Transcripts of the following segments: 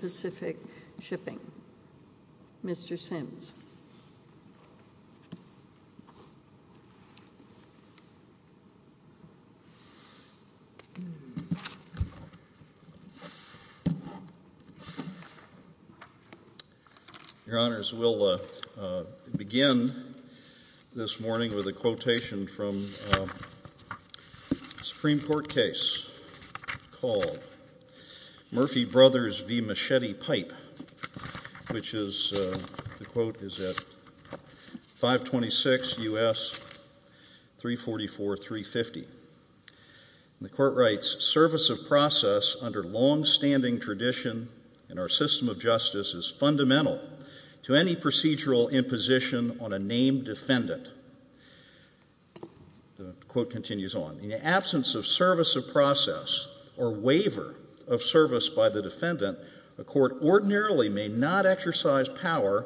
Pacific Shipping. Mr. Simms. Your Honors, we'll begin this morning with a quotation from a Supreme Court case called Murphy Brothers v. Machete Pipe, which is, the quote is at 526 U.S. 344-350. And the court writes, Service of process under longstanding tradition in our system of justice is fundamental to any procedural imposition on a named defendant. The quote continues on, In the absence of service by the defendant, a court ordinarily may not exercise power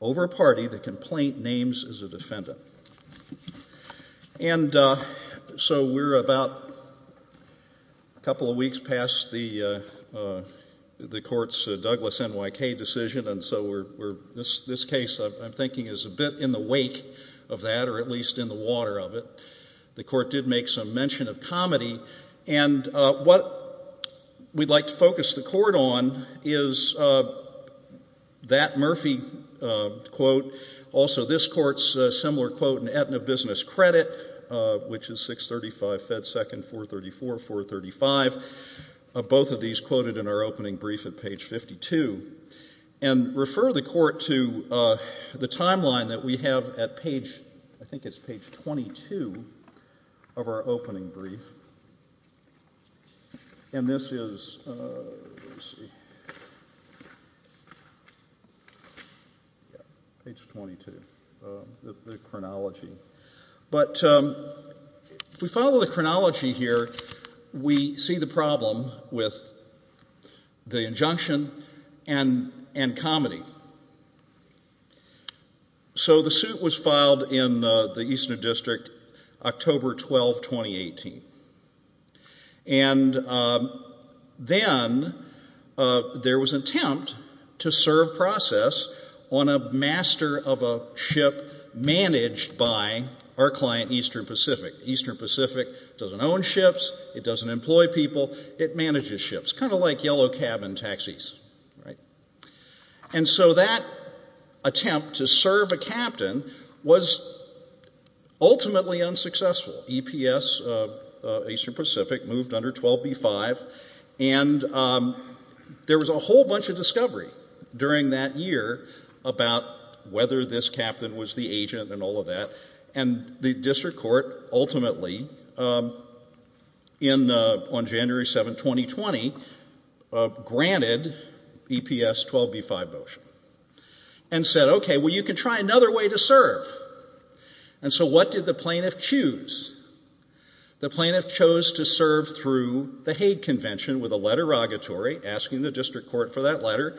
over a party the complaint names as a defendant. And so we're about a couple of weeks past the court's Douglas NYK decision, and so this case I'm thinking is a bit in the wake of that, or at least in the water of it. The court did make some mention of comedy, and what we'd like to focus the court on is that Murphy quote. Also this court's similar quote in Aetna Business Credit, which is 635 Fed Second 434-435. Both of these quoted in our opening brief at page 52. And refer the court to the timeline that we have at page, I think it's page 22 of our opening brief. And this is, let's see, page 22, the chronology. But we follow the chronology here, we see the problem with the injunction and comedy. So the suit was issued to the Aetna District October 12, 2018. And then there was an attempt to serve process on a master of a ship managed by our client Eastern Pacific. Eastern Pacific doesn't own ships, it doesn't employ people, it manages ships, kind of like yellow cabin taxis. And so that attempt to serve a captain was ultimately unsuccessful. EPS, Eastern Pacific, moved under 12B5, and there was a whole bunch of discovery during that year about whether this captain was the agent and all of that. And the district court ultimately, on January 7, 2020, granted EPS 12B5 motion. And said, okay, well, you can try another way to serve. And so what did the plaintiff choose? The plaintiff chose to serve through the Hague Convention with a letter rogatory asking the district court for that letter,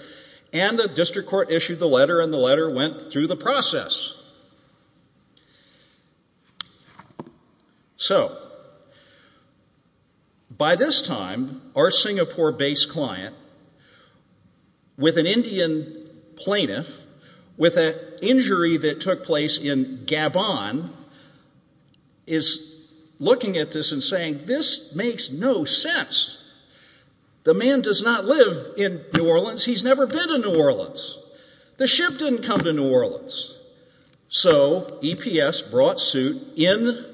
and the district court issued the letter, and the letter went through the process. So, by this time, the Singapore-based client, with an Indian plaintiff, with an injury that took place in Gabon, is looking at this and saying, this makes no sense. The man does not live in New Orleans, he's never been to New Orleans. The ship didn't come to New Orleans. So EPS brought suit in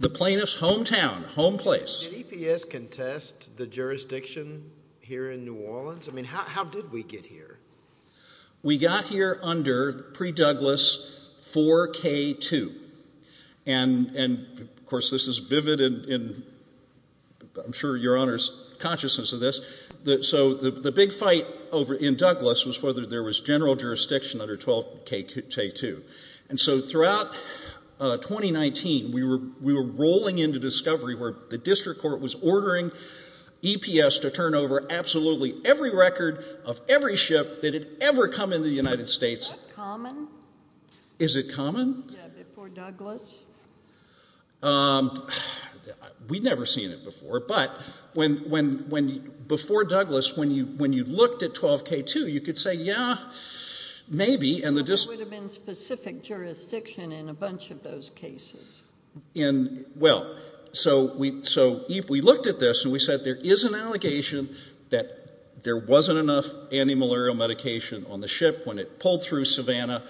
the plaintiff's hometown, home place. Did EPS contest the jurisdiction here in New Orleans? I mean, how did we get here? We got here under, pre-Douglas, 4K2. And, of course, this is vivid in, I'm sure, your Honor's consciousness of this. So the big fight in Douglas was whether there was general jurisdiction under 12K2. And so throughout 2019, we were rolling into discovery where the district court was ordering EPS to turn over absolutely every record of every ship that had ever come into the United States. Is that common? Is it common? Yeah, before Douglas? We'd never seen it before, but before Douglas, when you looked at 12K2, you could say, yeah, maybe. But there would have been specific jurisdiction in a bunch of those cases. Well, so we looked at this and we said, there is an allegation that there wasn't enough antimalarial medication on the ship when it pulled through Savannah.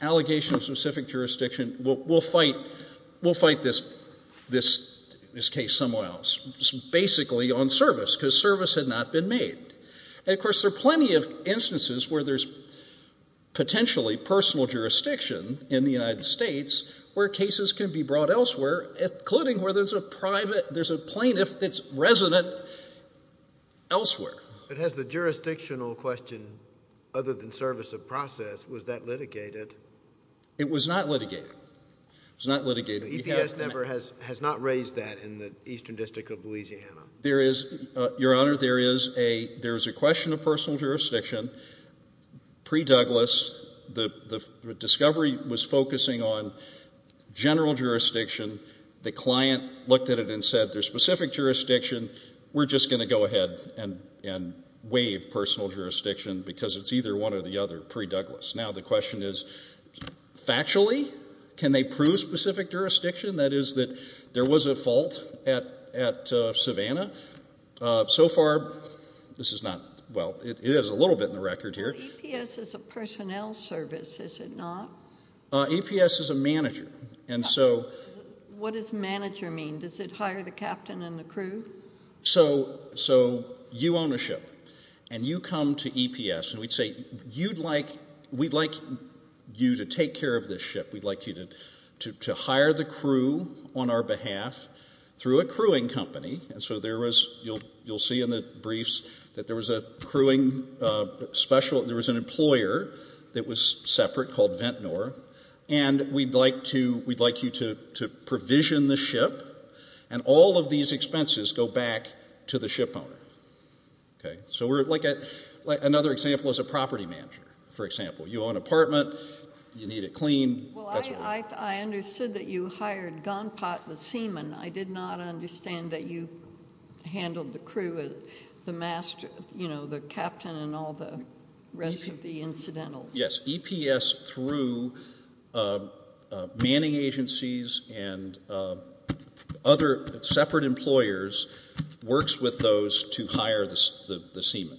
Allegation of specific jurisdiction. We'll fight this case somewhere else. Basically on service, because service had not been made. And, of course, there are plenty of instances where there's potentially personal jurisdiction in the United States where cases can be brought elsewhere, including where there's a private, there's a plaintiff that's resident elsewhere. But has the jurisdictional question, other than service of process, was that litigated? It was not litigated. It was not litigated. EPS never has, has not raised that in the Eastern District of Louisiana. There is, Your Honor, there is a question of personal jurisdiction. Pre-Douglas, the discovery was focusing on general jurisdiction. The client looked at it and said, there's specific jurisdiction. We're just going to go ahead and waive personal jurisdiction, because it's either one or the other, pre-Douglas. Now the question is, factually, can they prove specific jurisdiction? That is, that there was a fault at Savannah. So far, this is not, well, it is a little bit in the record here. EPS is a personnel service, is it not? EPS is a manager, and so... What does manager mean? Does it hire the captain and the crew? So you own a ship, and you come to EPS, and we'd say, you'd like, we'd like you to take care of the crew on our behalf through a crewing company, and so there was, you'll see in the briefs, that there was a crewing special, there was an employer that was separate called Ventnor, and we'd like to, we'd like you to provision the ship, and all of these expenses go back to the ship owner. Okay? So we're, like, another example is a property manager, for example. You own an apartment, you need it cleaned, that's what we're... I understood that you hired Gunpot, the seaman. I did not understand that you handled the crew, the master, you know, the captain, and all the rest of the incidentals. Yes. EPS, through manning agencies and other separate employers, works with those to hire the seaman.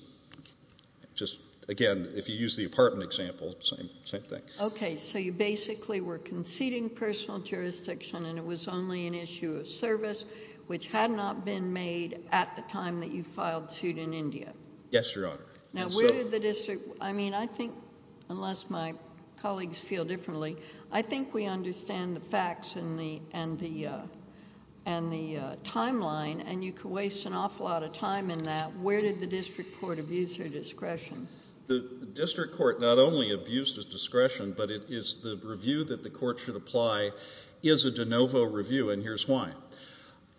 Just, again, if you use the apartment example, same thing. Okay, so you basically were conceding personal jurisdiction, and it was only an issue of service, which had not been made at the time that you filed suit in India. Yes, Your Honor. Now, where did the district, I mean, I think, unless my colleagues feel differently, I think we understand the facts and the, and the, and the timeline, and you could waste an awful lot of time in that. Where did the district court abuse your discretion? The district court not only abused his discretion, but it is, the review that the court should apply is a de novo review, and here's why.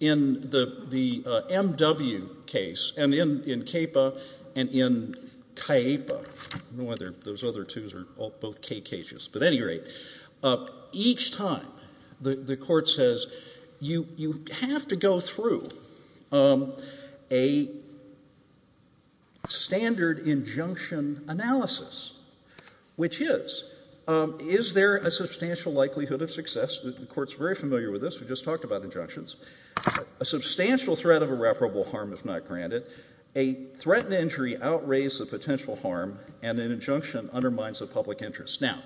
In the, the M.W. case, and in, in CAPA and in CAIPA, I don't know whether those other two are both K.K. cases, but at any rate, each time the, the court says, you, you have to go through a standard injunction analysis, which is, is there a substantial likelihood of success, the court's very familiar with this, we just talked about injunctions, a substantial threat of irreparable harm, if not granted, a threatened injury outweighs the potential harm, and an injunction undermines the public interest. Now,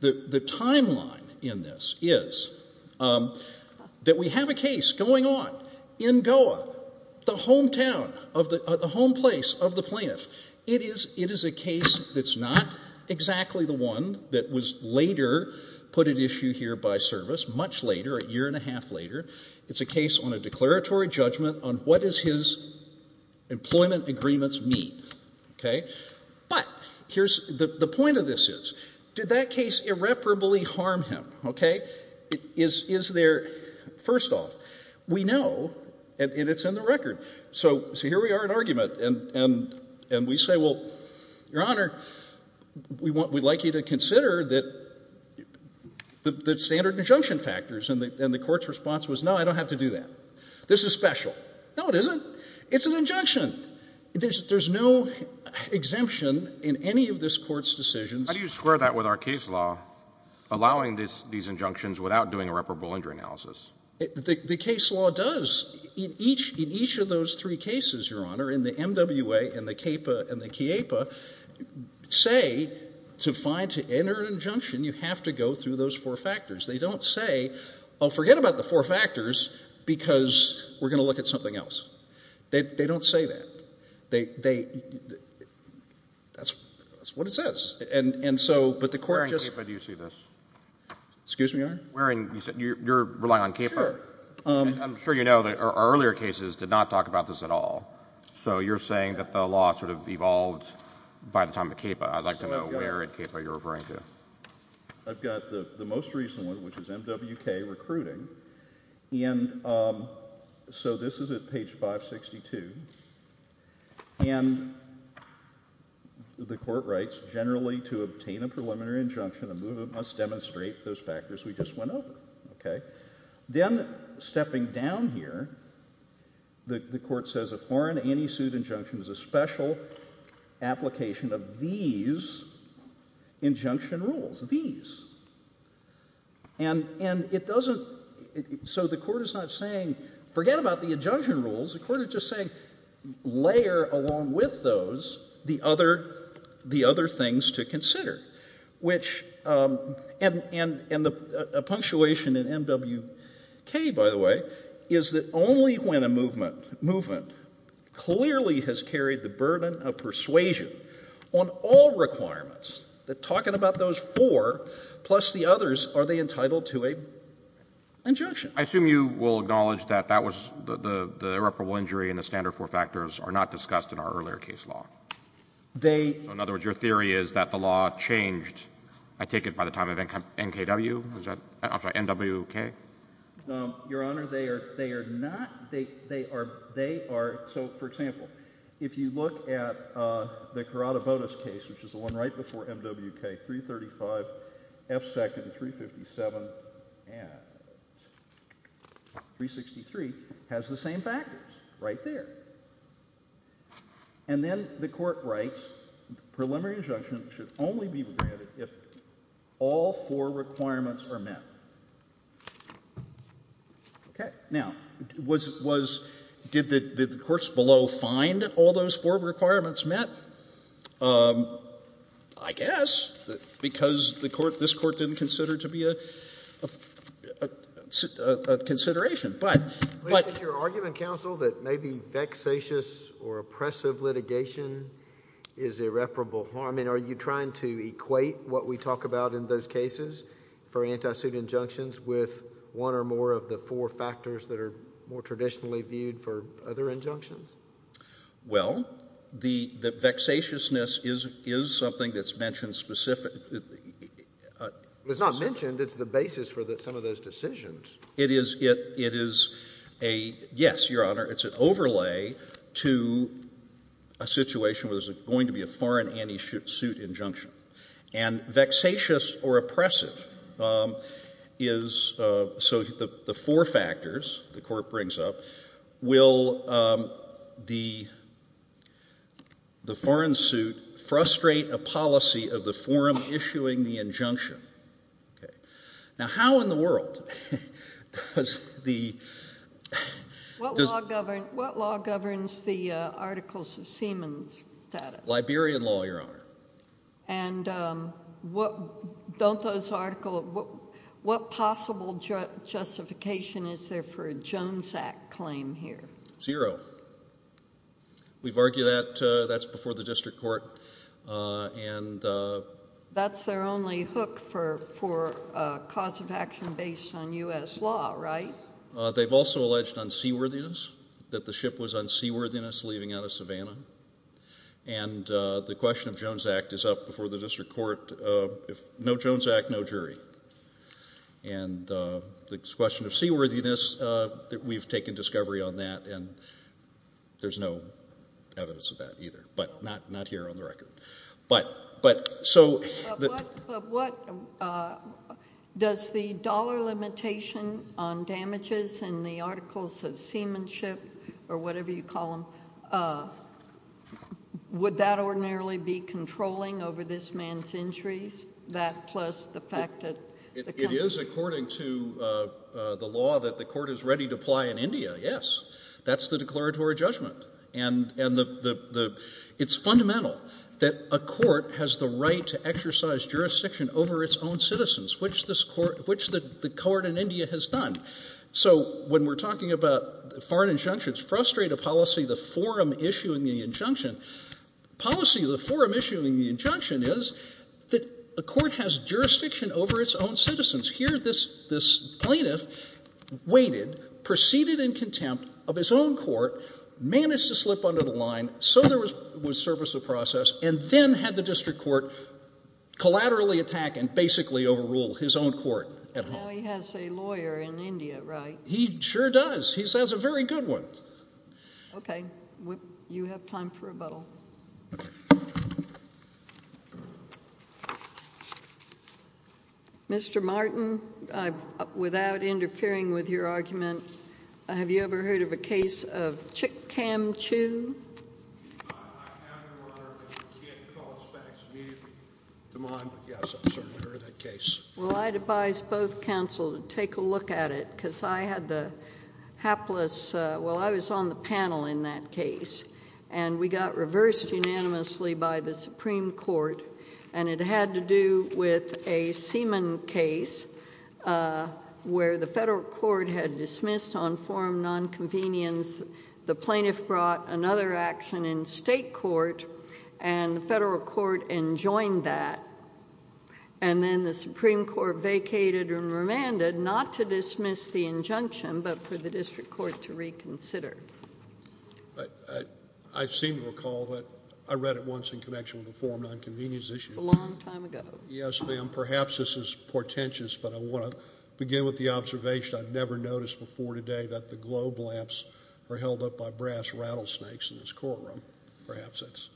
the, the timeline in this is that we have a case going on in Goa, the hometown of the, the home place of the plaintiff. It is, it is a case that's not exactly the one that was later put at issue here by service, much later, a year and a half later. It's a case on a declaratory judgment on what does his employment agreements mean, okay? But here's, the, the point of this is, did that case irreparably harm him, okay? Is, is there, first off, we know, and, and it's in the record, so, so here we are at argument, and, and, and we say, well, Your Honor, we want, we'd like you to consider that the, the standard injunction factors, and the, and the court's response was, no, I don't have to do that. This is special. No, it isn't. It's an injunction. There's, there's no exemption in any of this court's decisions. How do you square that with our case law, allowing this, these injunctions without doing a reparable injury analysis? The case law does. In each, in each of those three cases, Your Honor, in the MWA, and the CAPA, and the CIEPA, say, to find, to enter an injunction, you have to go through those four factors. They don't say, oh, forget about the four factors, because we're going to look at something else. They, they don't say that. They, they, that's, that's what it says. And, and so, but the court just... Where in CAPA do you see this? Excuse me, Your Honor? Where in, you're, you're relying on CAPA? Sure. I'm sure you know that our earlier cases did not talk about this at all. So you're saying that the law sort of evolved by the time of CAPA. I'd like to know where in CAPA you're referring to. I've got the, the most recent one, which is MWK Recruiting. And so this is at page 562. And the court writes, generally, to obtain a preliminary injunction, a movement must demonstrate those factors we just went over. Okay? Then, stepping down here, the, the court says a foreign anti-suit injunction is a special application of these injunction rules. These. And, and it doesn't, so the court is not saying, forget about the injunction rules. The court is just saying, layer along with those the other, the other things to consider. Which and, and, and the punctuation in MWK, by the way, is that only when a movement, movement clearly has carried the burden of persuasion on all requirements, that talking about those four, plus the others, are they entitled to a injunction? I assume you will acknowledge that that was the, the, the irreparable injury in the standard four factors are not discussed in our earlier case law? They. So in other words, your theory is that the law changed, I take it, by the time of NKW? Is that, I'm sorry, NWK? Your Honor, they are, they are not, they, they are, they are, so for example, if you look at the Corrada-Botas case, which is the one right before MWK, 335, F2nd, 357, and 363, has the same factors, right there. And then the court writes, preliminary injunction should only be granted if all four requirements are met. Okay. Now, was, was, did the, did the courts below find all those four requirements met? I guess, because the court, this court didn't consider it to be a, a, a, a, a consideration, but, but. But is your argument, counsel, that maybe vexatious or oppressive litigation is irreparable harm? I mean, are you trying to equate what we talk about in those cases, for anti-suit injunctions, with one or more of the four factors that are more traditionally viewed for other injunctions? Well, the, the vexatiousness is, is something that's mentioned specific, it, it, it, it. It's not mentioned, it's the basis for the, some of those decisions. It is, it, it is a, yes, your Honor, it's an overlay to a situation where there's going to be a foreign anti-suit injunction. And vexatious or oppressive is, so the, the four factors, the court brings up, will the, the foreign suit frustrate a policy of the forum issuing the injunction. Okay. Now, how in the world does the, does... What law govern, what law governs the articles of seaman's status? Liberian law, your Honor. And what, don't those article, what, what possible justification is there for a Jones Act claim here? Zero. We've argued that, that's before the district court, and... That's their only hook for, for cause of action based on U.S. law, right? They've also alleged unseaworthiness, that the ship was unseaworthiness leaving out of the, and the question of Jones Act is up before the district court, if no Jones Act, no jury. And the question of seaworthiness, that we've taken discovery on that, and there's no evidence of that either, but not, not here on the record. But, but, so... Does the dollar limitation on damages in the articles of seamanship, or whatever you call them, would that ordinarily be controlling over this man's injuries? That plus the fact that the... It is according to the law that the court is ready to apply in India, yes. That's the declaratory judgment. And, and the, the, it's fundamental that a court has the right to exercise jurisdiction over its own citizens, which this court, which the court in India has done. So when we're talking about foreign injunctions, frustrated policy, the forum issuing the injunction, policy of the forum issuing the injunction is that a court has jurisdiction over its own citizens. Here this, this plaintiff waited, proceeded in contempt of his own court, managed to slip under the line, so there was, was service of process, and then had the district court collaterally attack and basically overrule his own court at home. Now he has a lawyer in India, right? He sure does. He has a very good one. Okay. You have time for rebuttal. Mr. Martin, I, without interfering with your argument, have you ever heard of a case of Chick-Cam-Chu? I have, Your Honor, but you can't call us back immediately. Come on. Yes, I've certainly heard of that case. Well, I advise both counsel to take a look at it because I had the hapless, well, I was on the panel in that case, and we got reversed unanimously by the Supreme Court, and it had to do with a Seaman case where the federal court had dismissed on forum nonconvenience, the plaintiff brought another action in state court, and the federal court enjoined that, and then the Supreme Court vacated and remanded not to dismiss the injunction, but for the district court to reconsider. I seem to recall that I read it once in connection with a forum nonconvenience issue. A long time ago. Yes, ma'am. Perhaps this is portentous, but I want to begin with the observation I've never noticed before today that the globe lamps were held up by brass rattlesnakes in this courtroom. Perhaps it's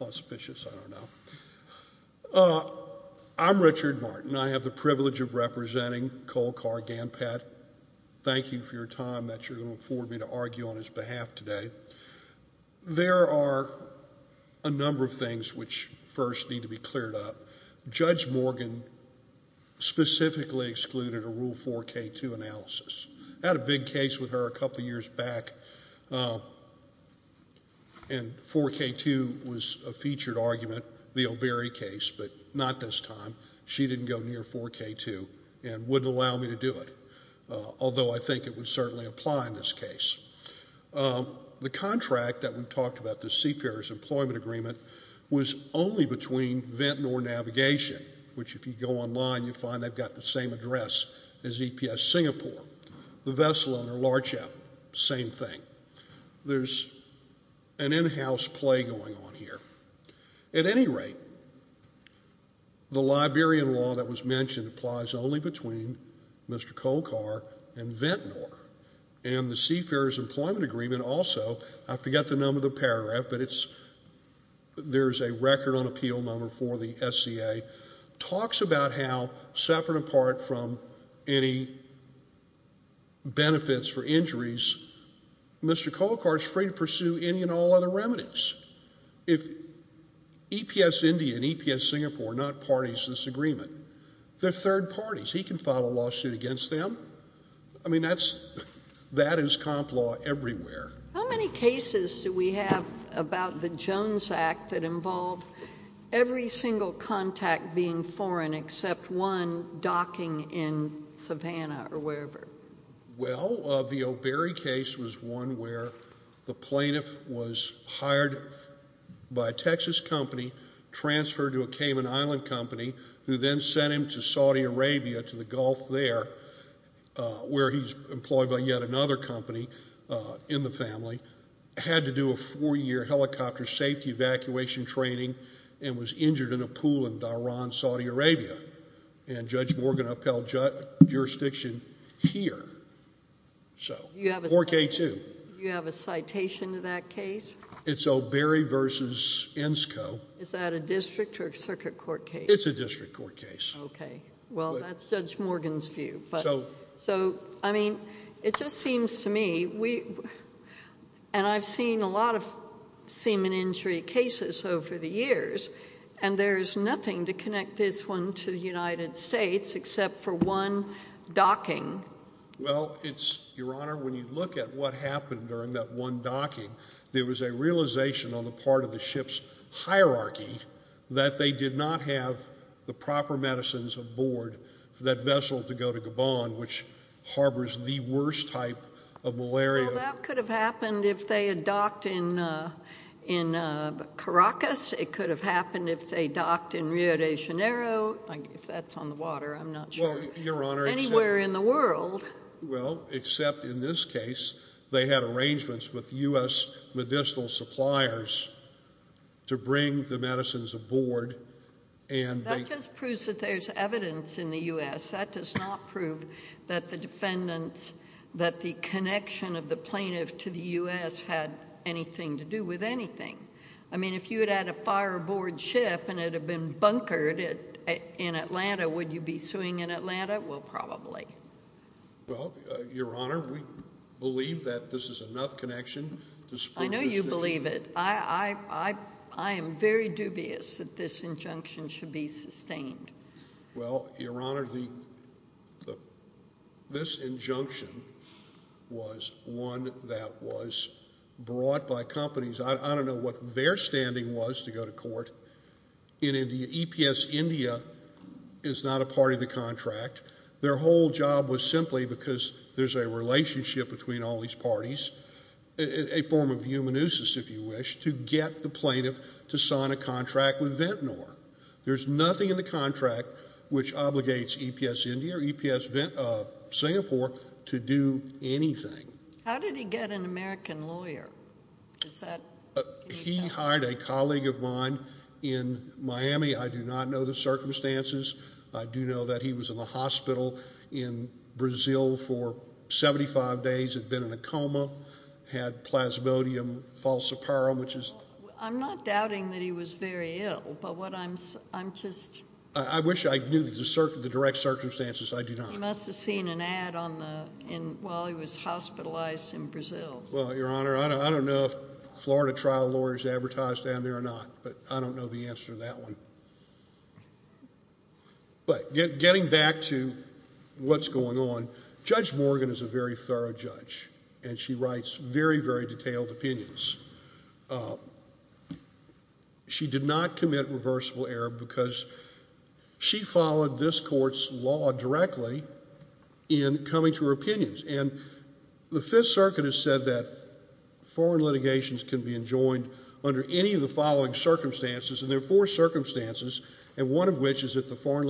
auspicious, I don't know. I'm Richard Martin. I have the privilege of representing Cole Carr Ganpat. Thank you for your time that you're going to afford me to argue on his behalf today. There are a number of things which first need to be cleared up. Judge Morgan specifically excluded a Rule 4K2 analysis. I had a big case with her a couple of years back, and 4K2 was a featured argument, the O'Berry case, but not this time. She didn't go near 4K2 and wouldn't allow me to do it, although I think it would certainly apply in this case. The contract that we've talked about, the Seafarers Employment Agreement, was only between Ventnor Navigation, which if you go online, you find they've got the same address as EPS in Singapore, the vessel under Larchap, same thing. There's an in-house play going on here. At any rate, the Liberian law that was mentioned applies only between Mr. Cole Carr and Ventnor, and the Seafarers Employment Agreement also, I forget the number of the paragraph, but benefits for injuries, Mr. Cole Carr is free to pursue any and all other remedies. If EPS India and EPS Singapore are not parties to this agreement, they're third parties. He can file a lawsuit against them. I mean, that is comp law everywhere. How many cases do we have about the Jones Act that involved every single contact being in Savannah or wherever? Well, the O'Berry case was one where the plaintiff was hired by a Texas company, transferred to a Cayman Island company, who then sent him to Saudi Arabia, to the Gulf there, where he's employed by yet another company in the family, had to do a four-year helicopter safety evacuation training, and was injured in a pool in Dharan, Saudi Arabia. Judge Morgan upheld jurisdiction here, so 4K2. You have a citation to that case? It's O'Berry v. ENSCO. Is that a district or a circuit court case? It's a district court case. Okay. Well, that's Judge Morgan's view. I mean, it just seems to me, and I've seen a lot of semen injury cases over the years, and there's nothing to connect this one to the United States except for one docking. Well, it's, Your Honor, when you look at what happened during that one docking, there was a realization on the part of the ship's hierarchy that they did not have the proper medicines aboard that vessel to go to Gabon, which harbors the worst type of malaria. Well, that could have happened if they had docked in Caracas. It could have happened if they docked in Rio de Janeiro. If that's on the water, I'm not sure. Well, Your Honor, except— Anywhere in the world. Well, except in this case, they had arrangements with U.S. medicinal suppliers to bring the medicines aboard, and they— That just proves that there's evidence in the U.S. That does not prove that the connection of the plaintiff to the U.S. had anything to do with anything. I mean, if you had had a fire aboard ship and it had been bunkered in Atlanta, would you be suing in Atlanta? Well, probably. Well, Your Honor, we believe that this is enough connection to support this— I know you believe it. I am very dubious that this injunction should be sustained. Well, Your Honor, this injunction was one that was brought by companies. I don't know what their standing was to go to court in India. EPS India is not a part of the contract. Their whole job was simply because there's a relationship between all these parties, a form of eumonosis, if you wish, to get the plaintiff to sign a contract with Ventnor. There's nothing in the contract which obligates EPS India or EPS Singapore to do anything. How did he get an American lawyer? He hired a colleague of mine in Miami. I do not know the circumstances. I do know that he was in the hospital in Brazil for 75 days, had been in a coma, had plasmodium false apparel, which is— I'm not doubting that he was very ill, but what I'm— I wish I knew the direct circumstances. I do not. He must have seen an ad while he was hospitalized in Brazil. Well, Your Honor, I don't know if Florida trial lawyers advertise down there or not, but I don't know the answer to that one. But getting back to what's going on, Judge Morgan is a very thorough judge, and she writes very, very detailed opinions. She did not commit reversible error because she followed this court's law directly in coming to her opinions. And the Fifth Circuit has said that foreign litigations can be enjoined under any of the following circumstances, and there are four circumstances, and one of which is if the found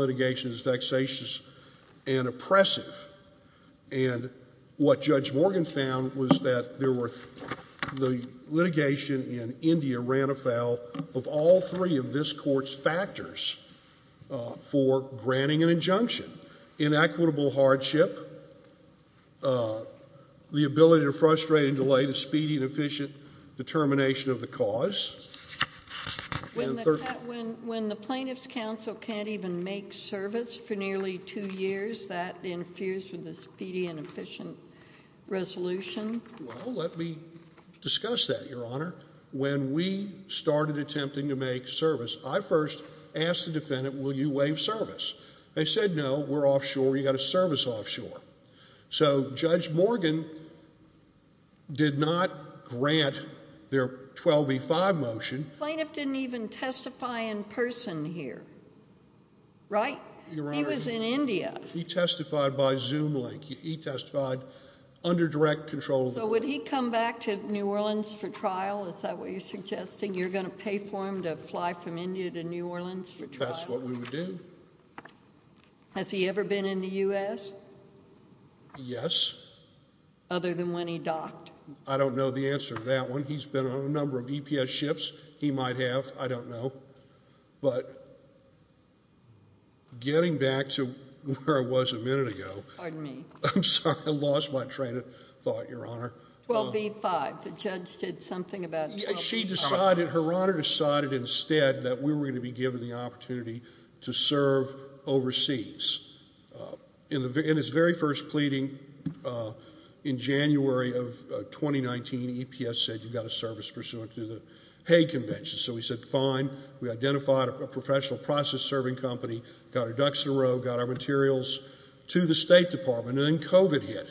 was that there were—the litigation in India ran afoul of all three of this court's factors for granting an injunction, inequitable hardship, the ability to frustrate and delay the speedy and efficient determination of the cause. When the plaintiff's counsel can't even make service for nearly two years, that infused with this speedy and efficient resolution? Well, let me discuss that, Your Honor. When we started attempting to make service, I first asked the defendant, will you waive service? They said, no, we're offshore. You've got to service offshore. So Judge Morgan did not grant their 12b-5 motion. The plaintiff didn't even testify in person here, right? He was in India. He testified by Zoom link. He testified under direct control of the court. So would he come back to New Orleans for trial? Is that what you're suggesting? You're going to pay for him to fly from India to New Orleans for trial? That's what we would do. Has he ever been in the U.S.? Yes. Other than when he docked? I don't know the answer to that one. He's been on a number of EPS ships. He might have. I don't know. But getting back to where I was a minute ago. Pardon me. I'm sorry. I lost my train of thought, Your Honor. 12b-5. The judge did something about 12b-5. Her Honor decided instead that we were going to be given the opportunity to serve overseas. In his very first pleading in January of 2019, EPS said you've got to service pursuant to the Hague Convention. So we said fine. We identified a professional process serving company, got our ducks in a row, got our materials to the State Department. And then COVID hit.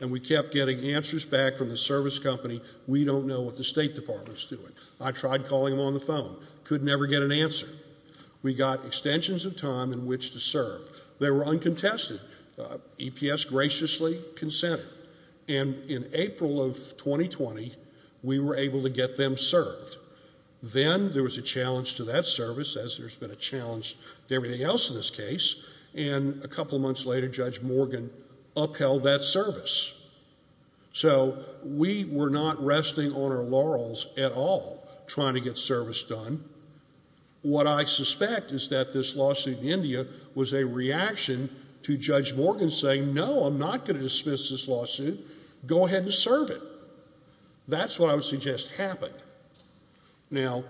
And we kept getting answers back from the service company. We don't know what the State Department is doing. I tried calling them on the phone. Could never get an answer. We got extensions of time in which to serve. They were uncontested. EPS graciously consented. And in April of 2020, we were able to get them served. Then there was a challenge to that service, as there's been a challenge to everything else in this case. And a couple months later, Judge Morgan upheld that service. So we were not resting on our laurels at all trying to get service done. What I suspect is that this lawsuit in India was a reaction to Judge Morgan saying no, I'm not going to dismiss this lawsuit. Go ahead and serve it. That's what I would suggest happened. Now,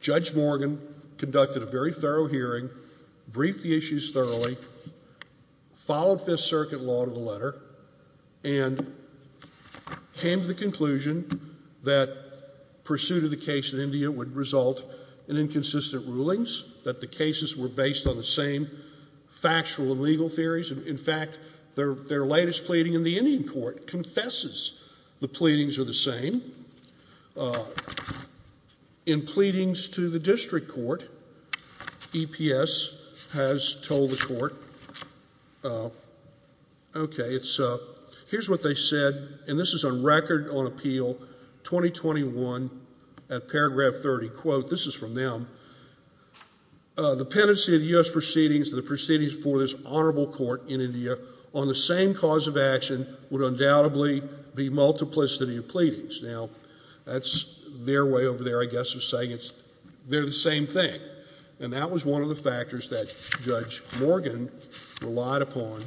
Judge Morgan conducted a very thorough hearing, briefed the issues thoroughly, followed Fifth Circuit law to the letter, and came to the conclusion that pursuit of the case in India would result in inconsistent rulings, that the cases were based on the same factual and legal theories. In fact, their latest pleading in the Indian court confesses the pleadings are the same. In pleadings to the district court, EPS has told the court, okay, here's what they said, and this is on record on appeal 2021 at paragraph 30, quote, this is from them, the pendency of the U.S. proceedings, the proceedings before this honorable court in India, on the same cause of action would undoubtedly be multiplicity of pleadings. Now, that's their way over there, I guess, of saying they're the same thing. And that was one of the factors that Judge Morgan relied upon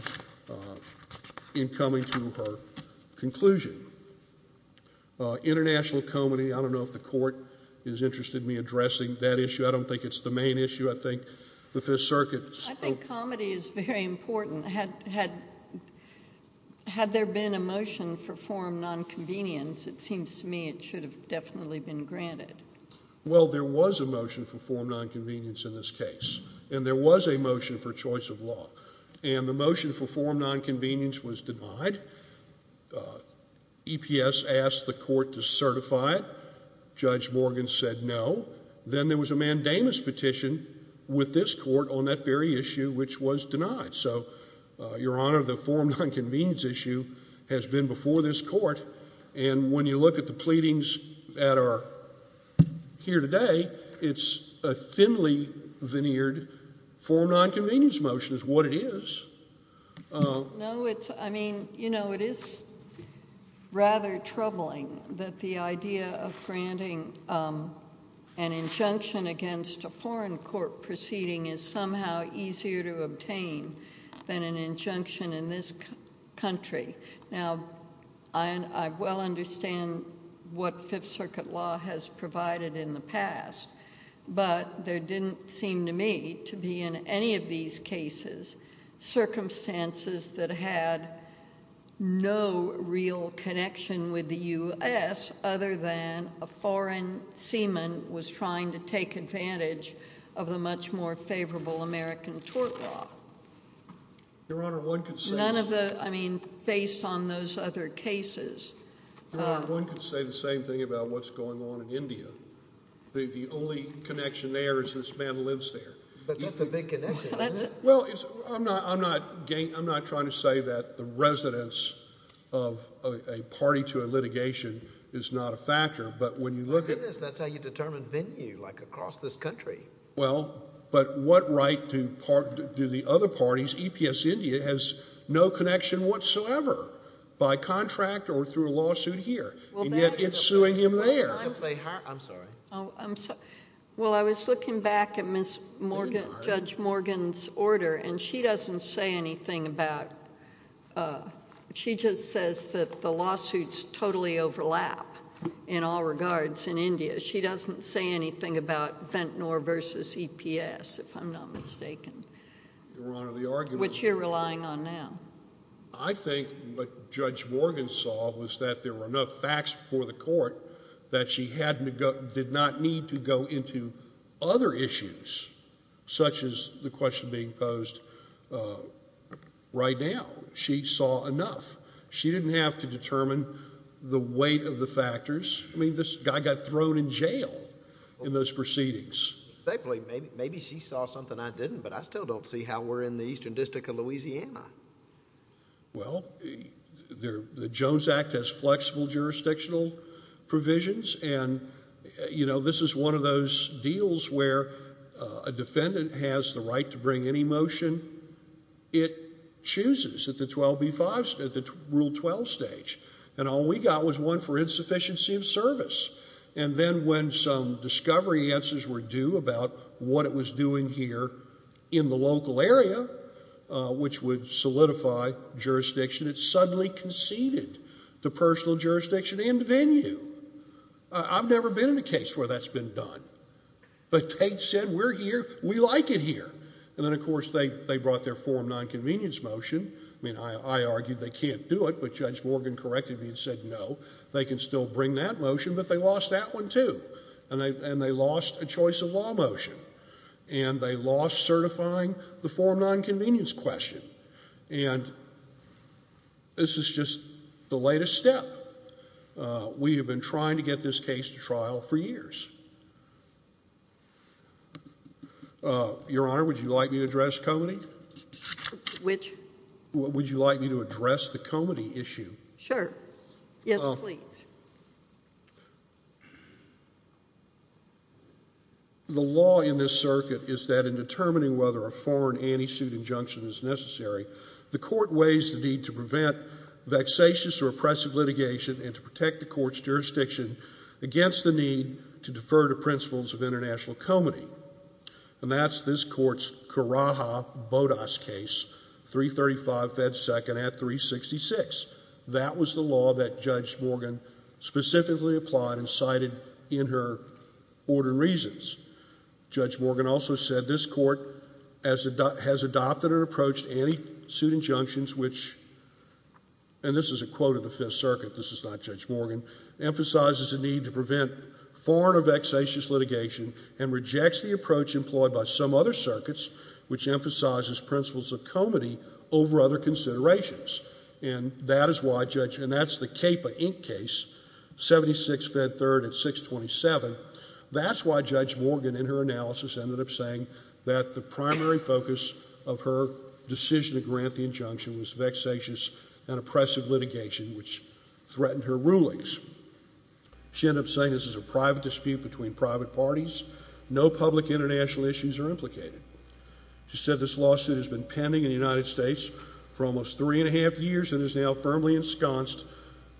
in coming to her conclusion. International comedy, I don't know if the court is interested in me addressing that issue. I don't think it's the main issue. I think the Fifth Circuit spoke to it. I think comedy is very important. Had there been a motion for forum nonconvenience, it seems to me it should have definitely been granted. Well, there was a motion for forum nonconvenience in this case, and there was a motion for choice of law. And the motion for forum nonconvenience was denied. EPS asked the court to certify it. Judge Morgan said no. Then there was a mandamus petition with this court on that very issue, which was denied. So, Your Honor, the forum nonconvenience issue has been before this court, and when you look at the pleadings that are here today, it's a thinly veneered forum nonconvenience motion is what it is. No, it's... I mean, you know, it is rather troubling that the idea of granting an injunction against a foreign court proceeding is somehow easier to obtain than an injunction in this country. Now, I well understand what Fifth Circuit law has provided in the past, but there didn't seem to me to be in any of these cases circumstances that had no real connection with the U.S. other than a foreign seaman was trying to take advantage of the much more favorable American tort law. Your Honor, one could say... None of the... I mean, based on those other cases... Your Honor, one could say the same thing about what's going on in India. The only connection there is this man lives there. But that's a big connection, isn't it? Well, it's... I'm not trying to say that the residence of a party to a litigation is not a factor, but when you look at... My goodness, that's how you determine venue, like across this country. Well, but what right do the other parties... EPS India has no connection whatsoever by contract or through a lawsuit here, and yet it's suing him there. I'm sorry. Well, I was looking back at Judge Morgan's order, and she doesn't say anything about... She just says that the lawsuits totally overlap in all regards in India. She doesn't say anything about Ventnor versus EPS, if I'm not mistaken. Your Honor, the argument... Which you're relying on now. I think what Judge Morgan saw was that there were enough facts before the court that she had to go... did not need to go into other issues, such as the question being posed right now. She saw enough. She didn't have to determine the weight of the factors. I mean, this guy got thrown in jail in those proceedings. Maybe she saw something I didn't, but I still don't see how we're in the Eastern District of Louisiana. Well, the Jones Act has flexible jurisdictional provisions, and this is one of those deals where a defendant has the right to bring any motion. It chooses at the Rule 12 stage, and all we got was one for insufficiency of service. And then when some discovery answers were due about what it was doing here in the local area, which would solidify jurisdiction, it suddenly conceded to personal jurisdiction and venue. I've never been in a case where that's been done. But Tate said, we're here. We like it here. And then, of course, they brought their form nonconvenience motion. I mean, I argued they can't do it, but Judge Morgan corrected me and said no. They can still bring that motion, but they lost that one too, and they lost a choice of law motion, and they lost certifying the form nonconvenience question. And this is just the latest step. We have been trying to get this case to trial for years. Your Honor, would you like me to address Comity? Which? Would you like me to address the Comity issue? Sure. Yes, please. The law in this circuit is that in determining whether a foreign anti-suit injunction is necessary, the court weighs the need to prevent vexatious or oppressive litigation and to protect the court's jurisdiction against the need to defer to principles of international comity. And that's this court's Karaha-Bodas case, 335 Fed 2nd at 366. That was the law that Judge Morgan specifically applied and cited in her order and reasons. Judge Morgan also said this court has adopted or approached anti-suit injunctions, which, and this is a quote of the Fifth Circuit, this is not Judge Morgan, emphasizes the need to prevent foreign or vexatious litigation and rejects the approach employed by some other circuits, which emphasizes principles of comity over other considerations. And that is why Judge, and that's the CAPA Inc. case, 76 Fed 3rd at 627. That's why Judge Morgan in her analysis ended up saying that the primary focus of her decision to grant the injunction was vexatious and oppressive litigation, which threatened her rulings. She ended up saying this is a private dispute between private parties. No public international issues are implicated. She said this lawsuit has been pending in the United States for almost three and a half years and is now firmly ensconced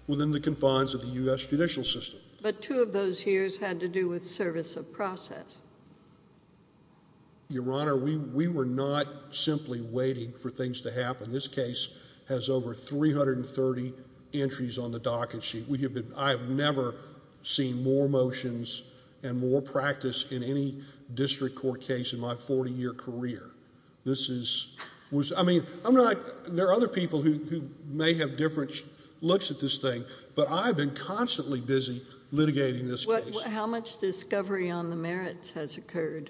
within the confines of the U.S. judicial system. But two of those years had to do with service of process. Your Honor, we were not simply waiting for things to happen. This case has over 330 entries on the docket sheet. I have never seen more motions and more practice in any district court case in my 40-year career. I mean, there are other people who may have different looks at this thing, but I've been constantly busy litigating this case. How much discovery on the merits has occurred?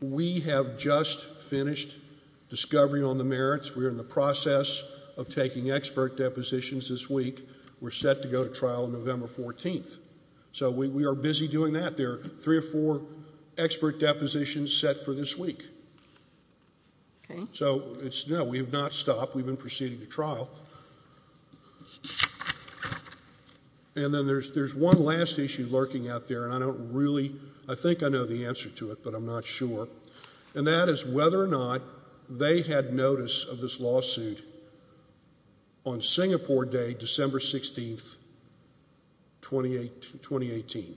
We have just finished discovery on the merits. We are in the process of taking expert depositions this week. We're set to go to trial November 14th. So we are busy doing that. There are three or four expert depositions set for this week. So, no, we have not stopped. We've been proceeding to trial. And then there's one last issue lurking out there, and I don't really, I think I know the answer to it, but I'm not sure, and that is whether or not they had notice of this lawsuit on Singapore Day, December 16th, 2018,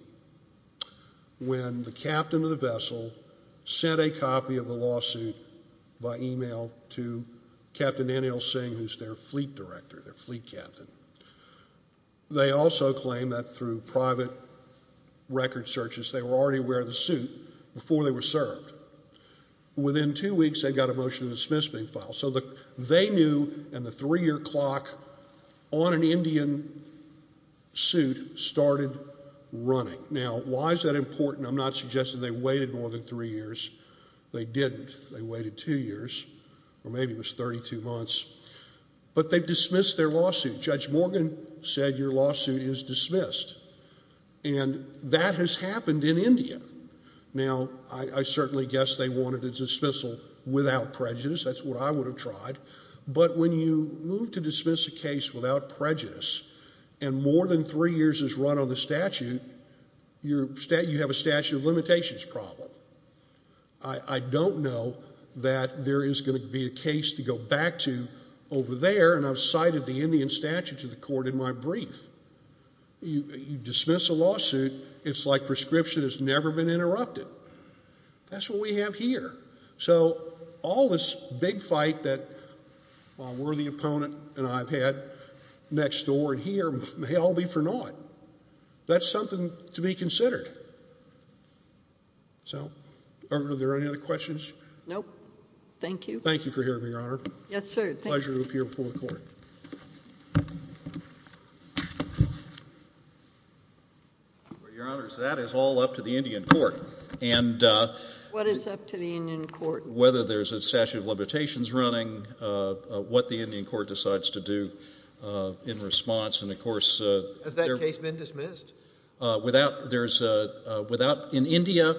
when the captain of the vessel sent a copy of the lawsuit by email to Captain N.L. Singh, who's their fleet director, their fleet captain. They also claim that through private record searches, they were already aware of the suit before they were served. Within two weeks, they got a motion to dismiss being filed. So they knew, and the three-year clock on an Indian suit started running. Now, why is that important? I'm not suggesting they waited more than three years. They didn't. They waited two years, or maybe it was 32 months. But they've dismissed their lawsuit. Judge Morgan said your lawsuit is dismissed, and that has happened in India. Now, I certainly guess they wanted a dismissal without prejudice. That's what I would have tried. But when you move to dismiss a case without prejudice, and more than three years is run on the statute, you have a statute of limitations problem. I don't know that there is going to be a case to go back to over there, and I've cited the Indian statute to the court in my brief. You dismiss a lawsuit, it's like prescription has never been interrupted. That's what we have here. So all this big fight that my worthy opponent and I have had next door and here may all be for naught. That's something to be considered. So are there any other questions? Nope. Thank you. Thank you for hearing me, Your Honor. Yes, sir. Pleasure to appear before the court. Your Honor, that is all up to the Indian court. What is up to the Indian court? Whether there's a statute of limitations running, what the Indian court decides to do in response. Has that case been dismissed? In India,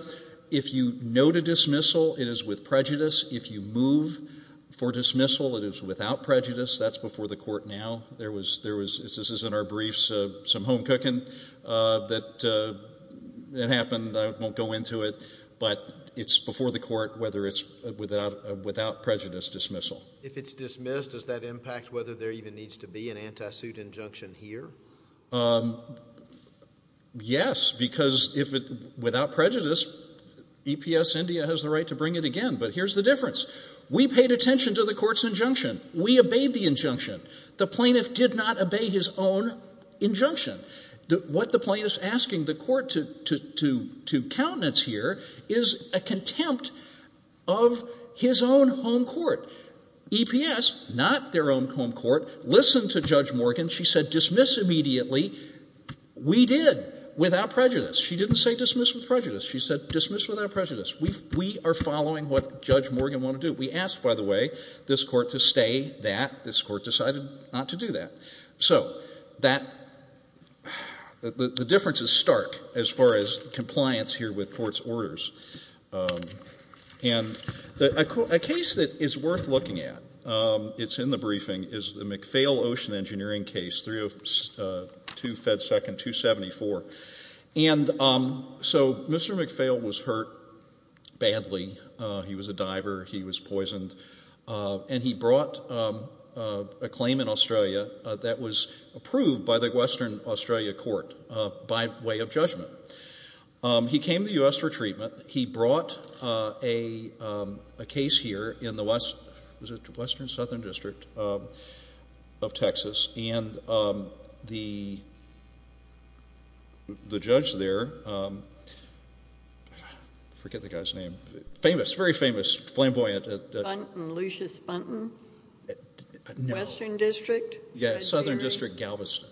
if you note a dismissal, it is with prejudice. If you move for dismissal, it is without prejudice. That's before the court now. This is in our briefs, some home cooking that happened. I won't go into it, but it's before the court whether it's without prejudice dismissal. If it's dismissed, does that impact whether there even needs to be an anti-suit injunction here? Yes, because without prejudice, EPS India has the right to bring it again. But here's the difference. We paid attention to the court's injunction. We obeyed the injunction. The plaintiff did not obey his own injunction. What the plaintiff is asking the court to countenance here is a contempt of his own home court. EPS, not their own home court, listened to Judge Morgan. She said dismiss immediately. We did without prejudice. She didn't say dismiss with prejudice. She said dismiss without prejudice. We are following what Judge Morgan wanted to do. We asked, by the way, this court to stay that. This court decided not to do that. So the difference is stark as far as compliance here with court's orders. And a case that is worth looking at, it's in the briefing, is the McPhail Ocean Engineering case, 302 Fed 2nd, 274. And so Mr. McPhail was hurt badly. He was a diver. He was poisoned. And he brought a claim in Australia that was approved by the Western Australia Court by way of judgment. He came to the U.S. for treatment. He brought a case here in the Western Southern District of Texas. And the judge there, I forget the guy's name, famous, very famous, flamboyant. Lucius Funton? No. Western District? Yes, Southern District, Galveston.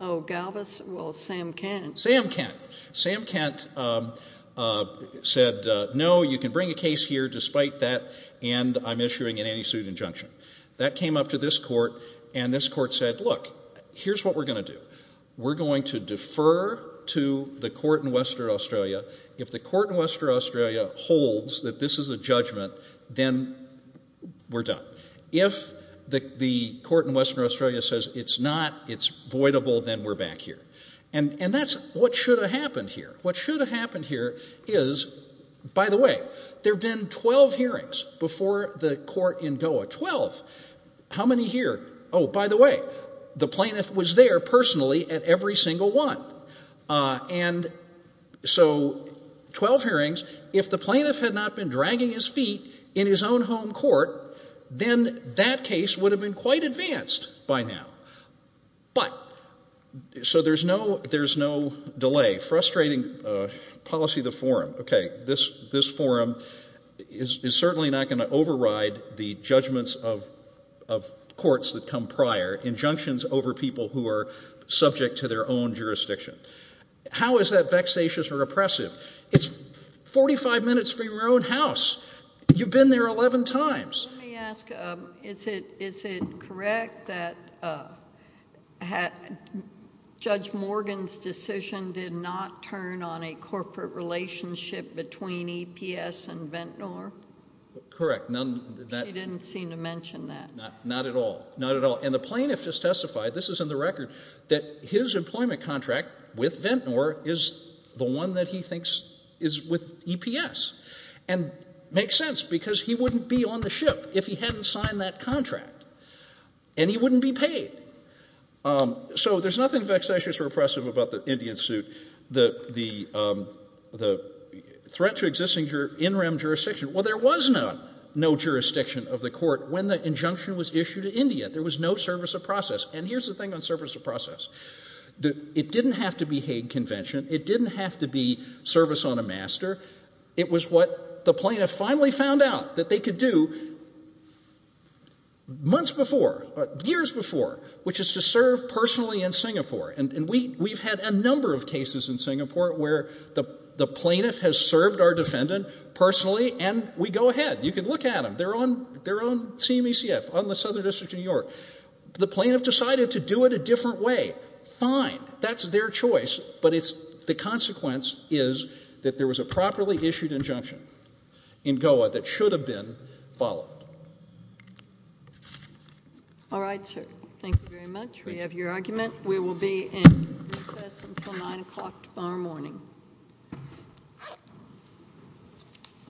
Oh, Galveston. Well, Sam Kent. Sam Kent said, no, you can bring a case here despite that, and I'm issuing an anti-suit injunction. That came up to this court, and this court said, look, here's what we're going to do. We're going to defer to the court in Western Australia. If the court in Western Australia holds that this is a judgment, then we're done. If the court in Western Australia says it's not, it's voidable, then we're back here. And that's what should have happened here. What should have happened here is, by the way, there have been 12 hearings before the court in Goa. Twelve. How many here? Oh, by the way, the plaintiff was there personally at every single one. And so 12 hearings. If the plaintiff had not been dragging his feet in his own home court, then that case would have been quite advanced by now. But, so there's no delay. Frustrating policy of the forum. Okay, this forum is certainly not going to override the judgments of courts that come prior, injunctions over people who are subject to their own jurisdiction. How is that vexatious or oppressive? It's 45 minutes from your own house. You've been there 11 times. Let me ask, is it correct that Judge Morgan's decision did not turn on a corporate relationship between EPS and Ventnor? Correct. She didn't seem to mention that. Not at all. Not at all. And the plaintiff just testified, this is in the record, that his employment contract with Ventnor is the one that he thinks is with EPS. And it makes sense because he wouldn't be on the ship if he hadn't signed that contract. And he wouldn't be paid. So there's nothing vexatious or oppressive about the Indian suit. The threat to existing in rem jurisdiction. Well, there was no jurisdiction of the court when the injunction was issued to India. There was no service of process. And here's the thing on service of process. It didn't have to be Hague Convention. It didn't have to be service on a master. It was what the plaintiff finally found out that they could do months before, years before, which is to serve personally in Singapore. And we've had a number of cases in Singapore where the plaintiff has served our defendant personally, and we go ahead. You can look at them. They're on CMECF, on the Southern District of New York. The plaintiff decided to do it a different way. Fine. That's their choice. But the consequence is that there was a properly issued injunction in GOA that should have been followed. All right, sir. Thank you very much. We have your argument. We will be in recess until 9 o'clock tomorrow morning.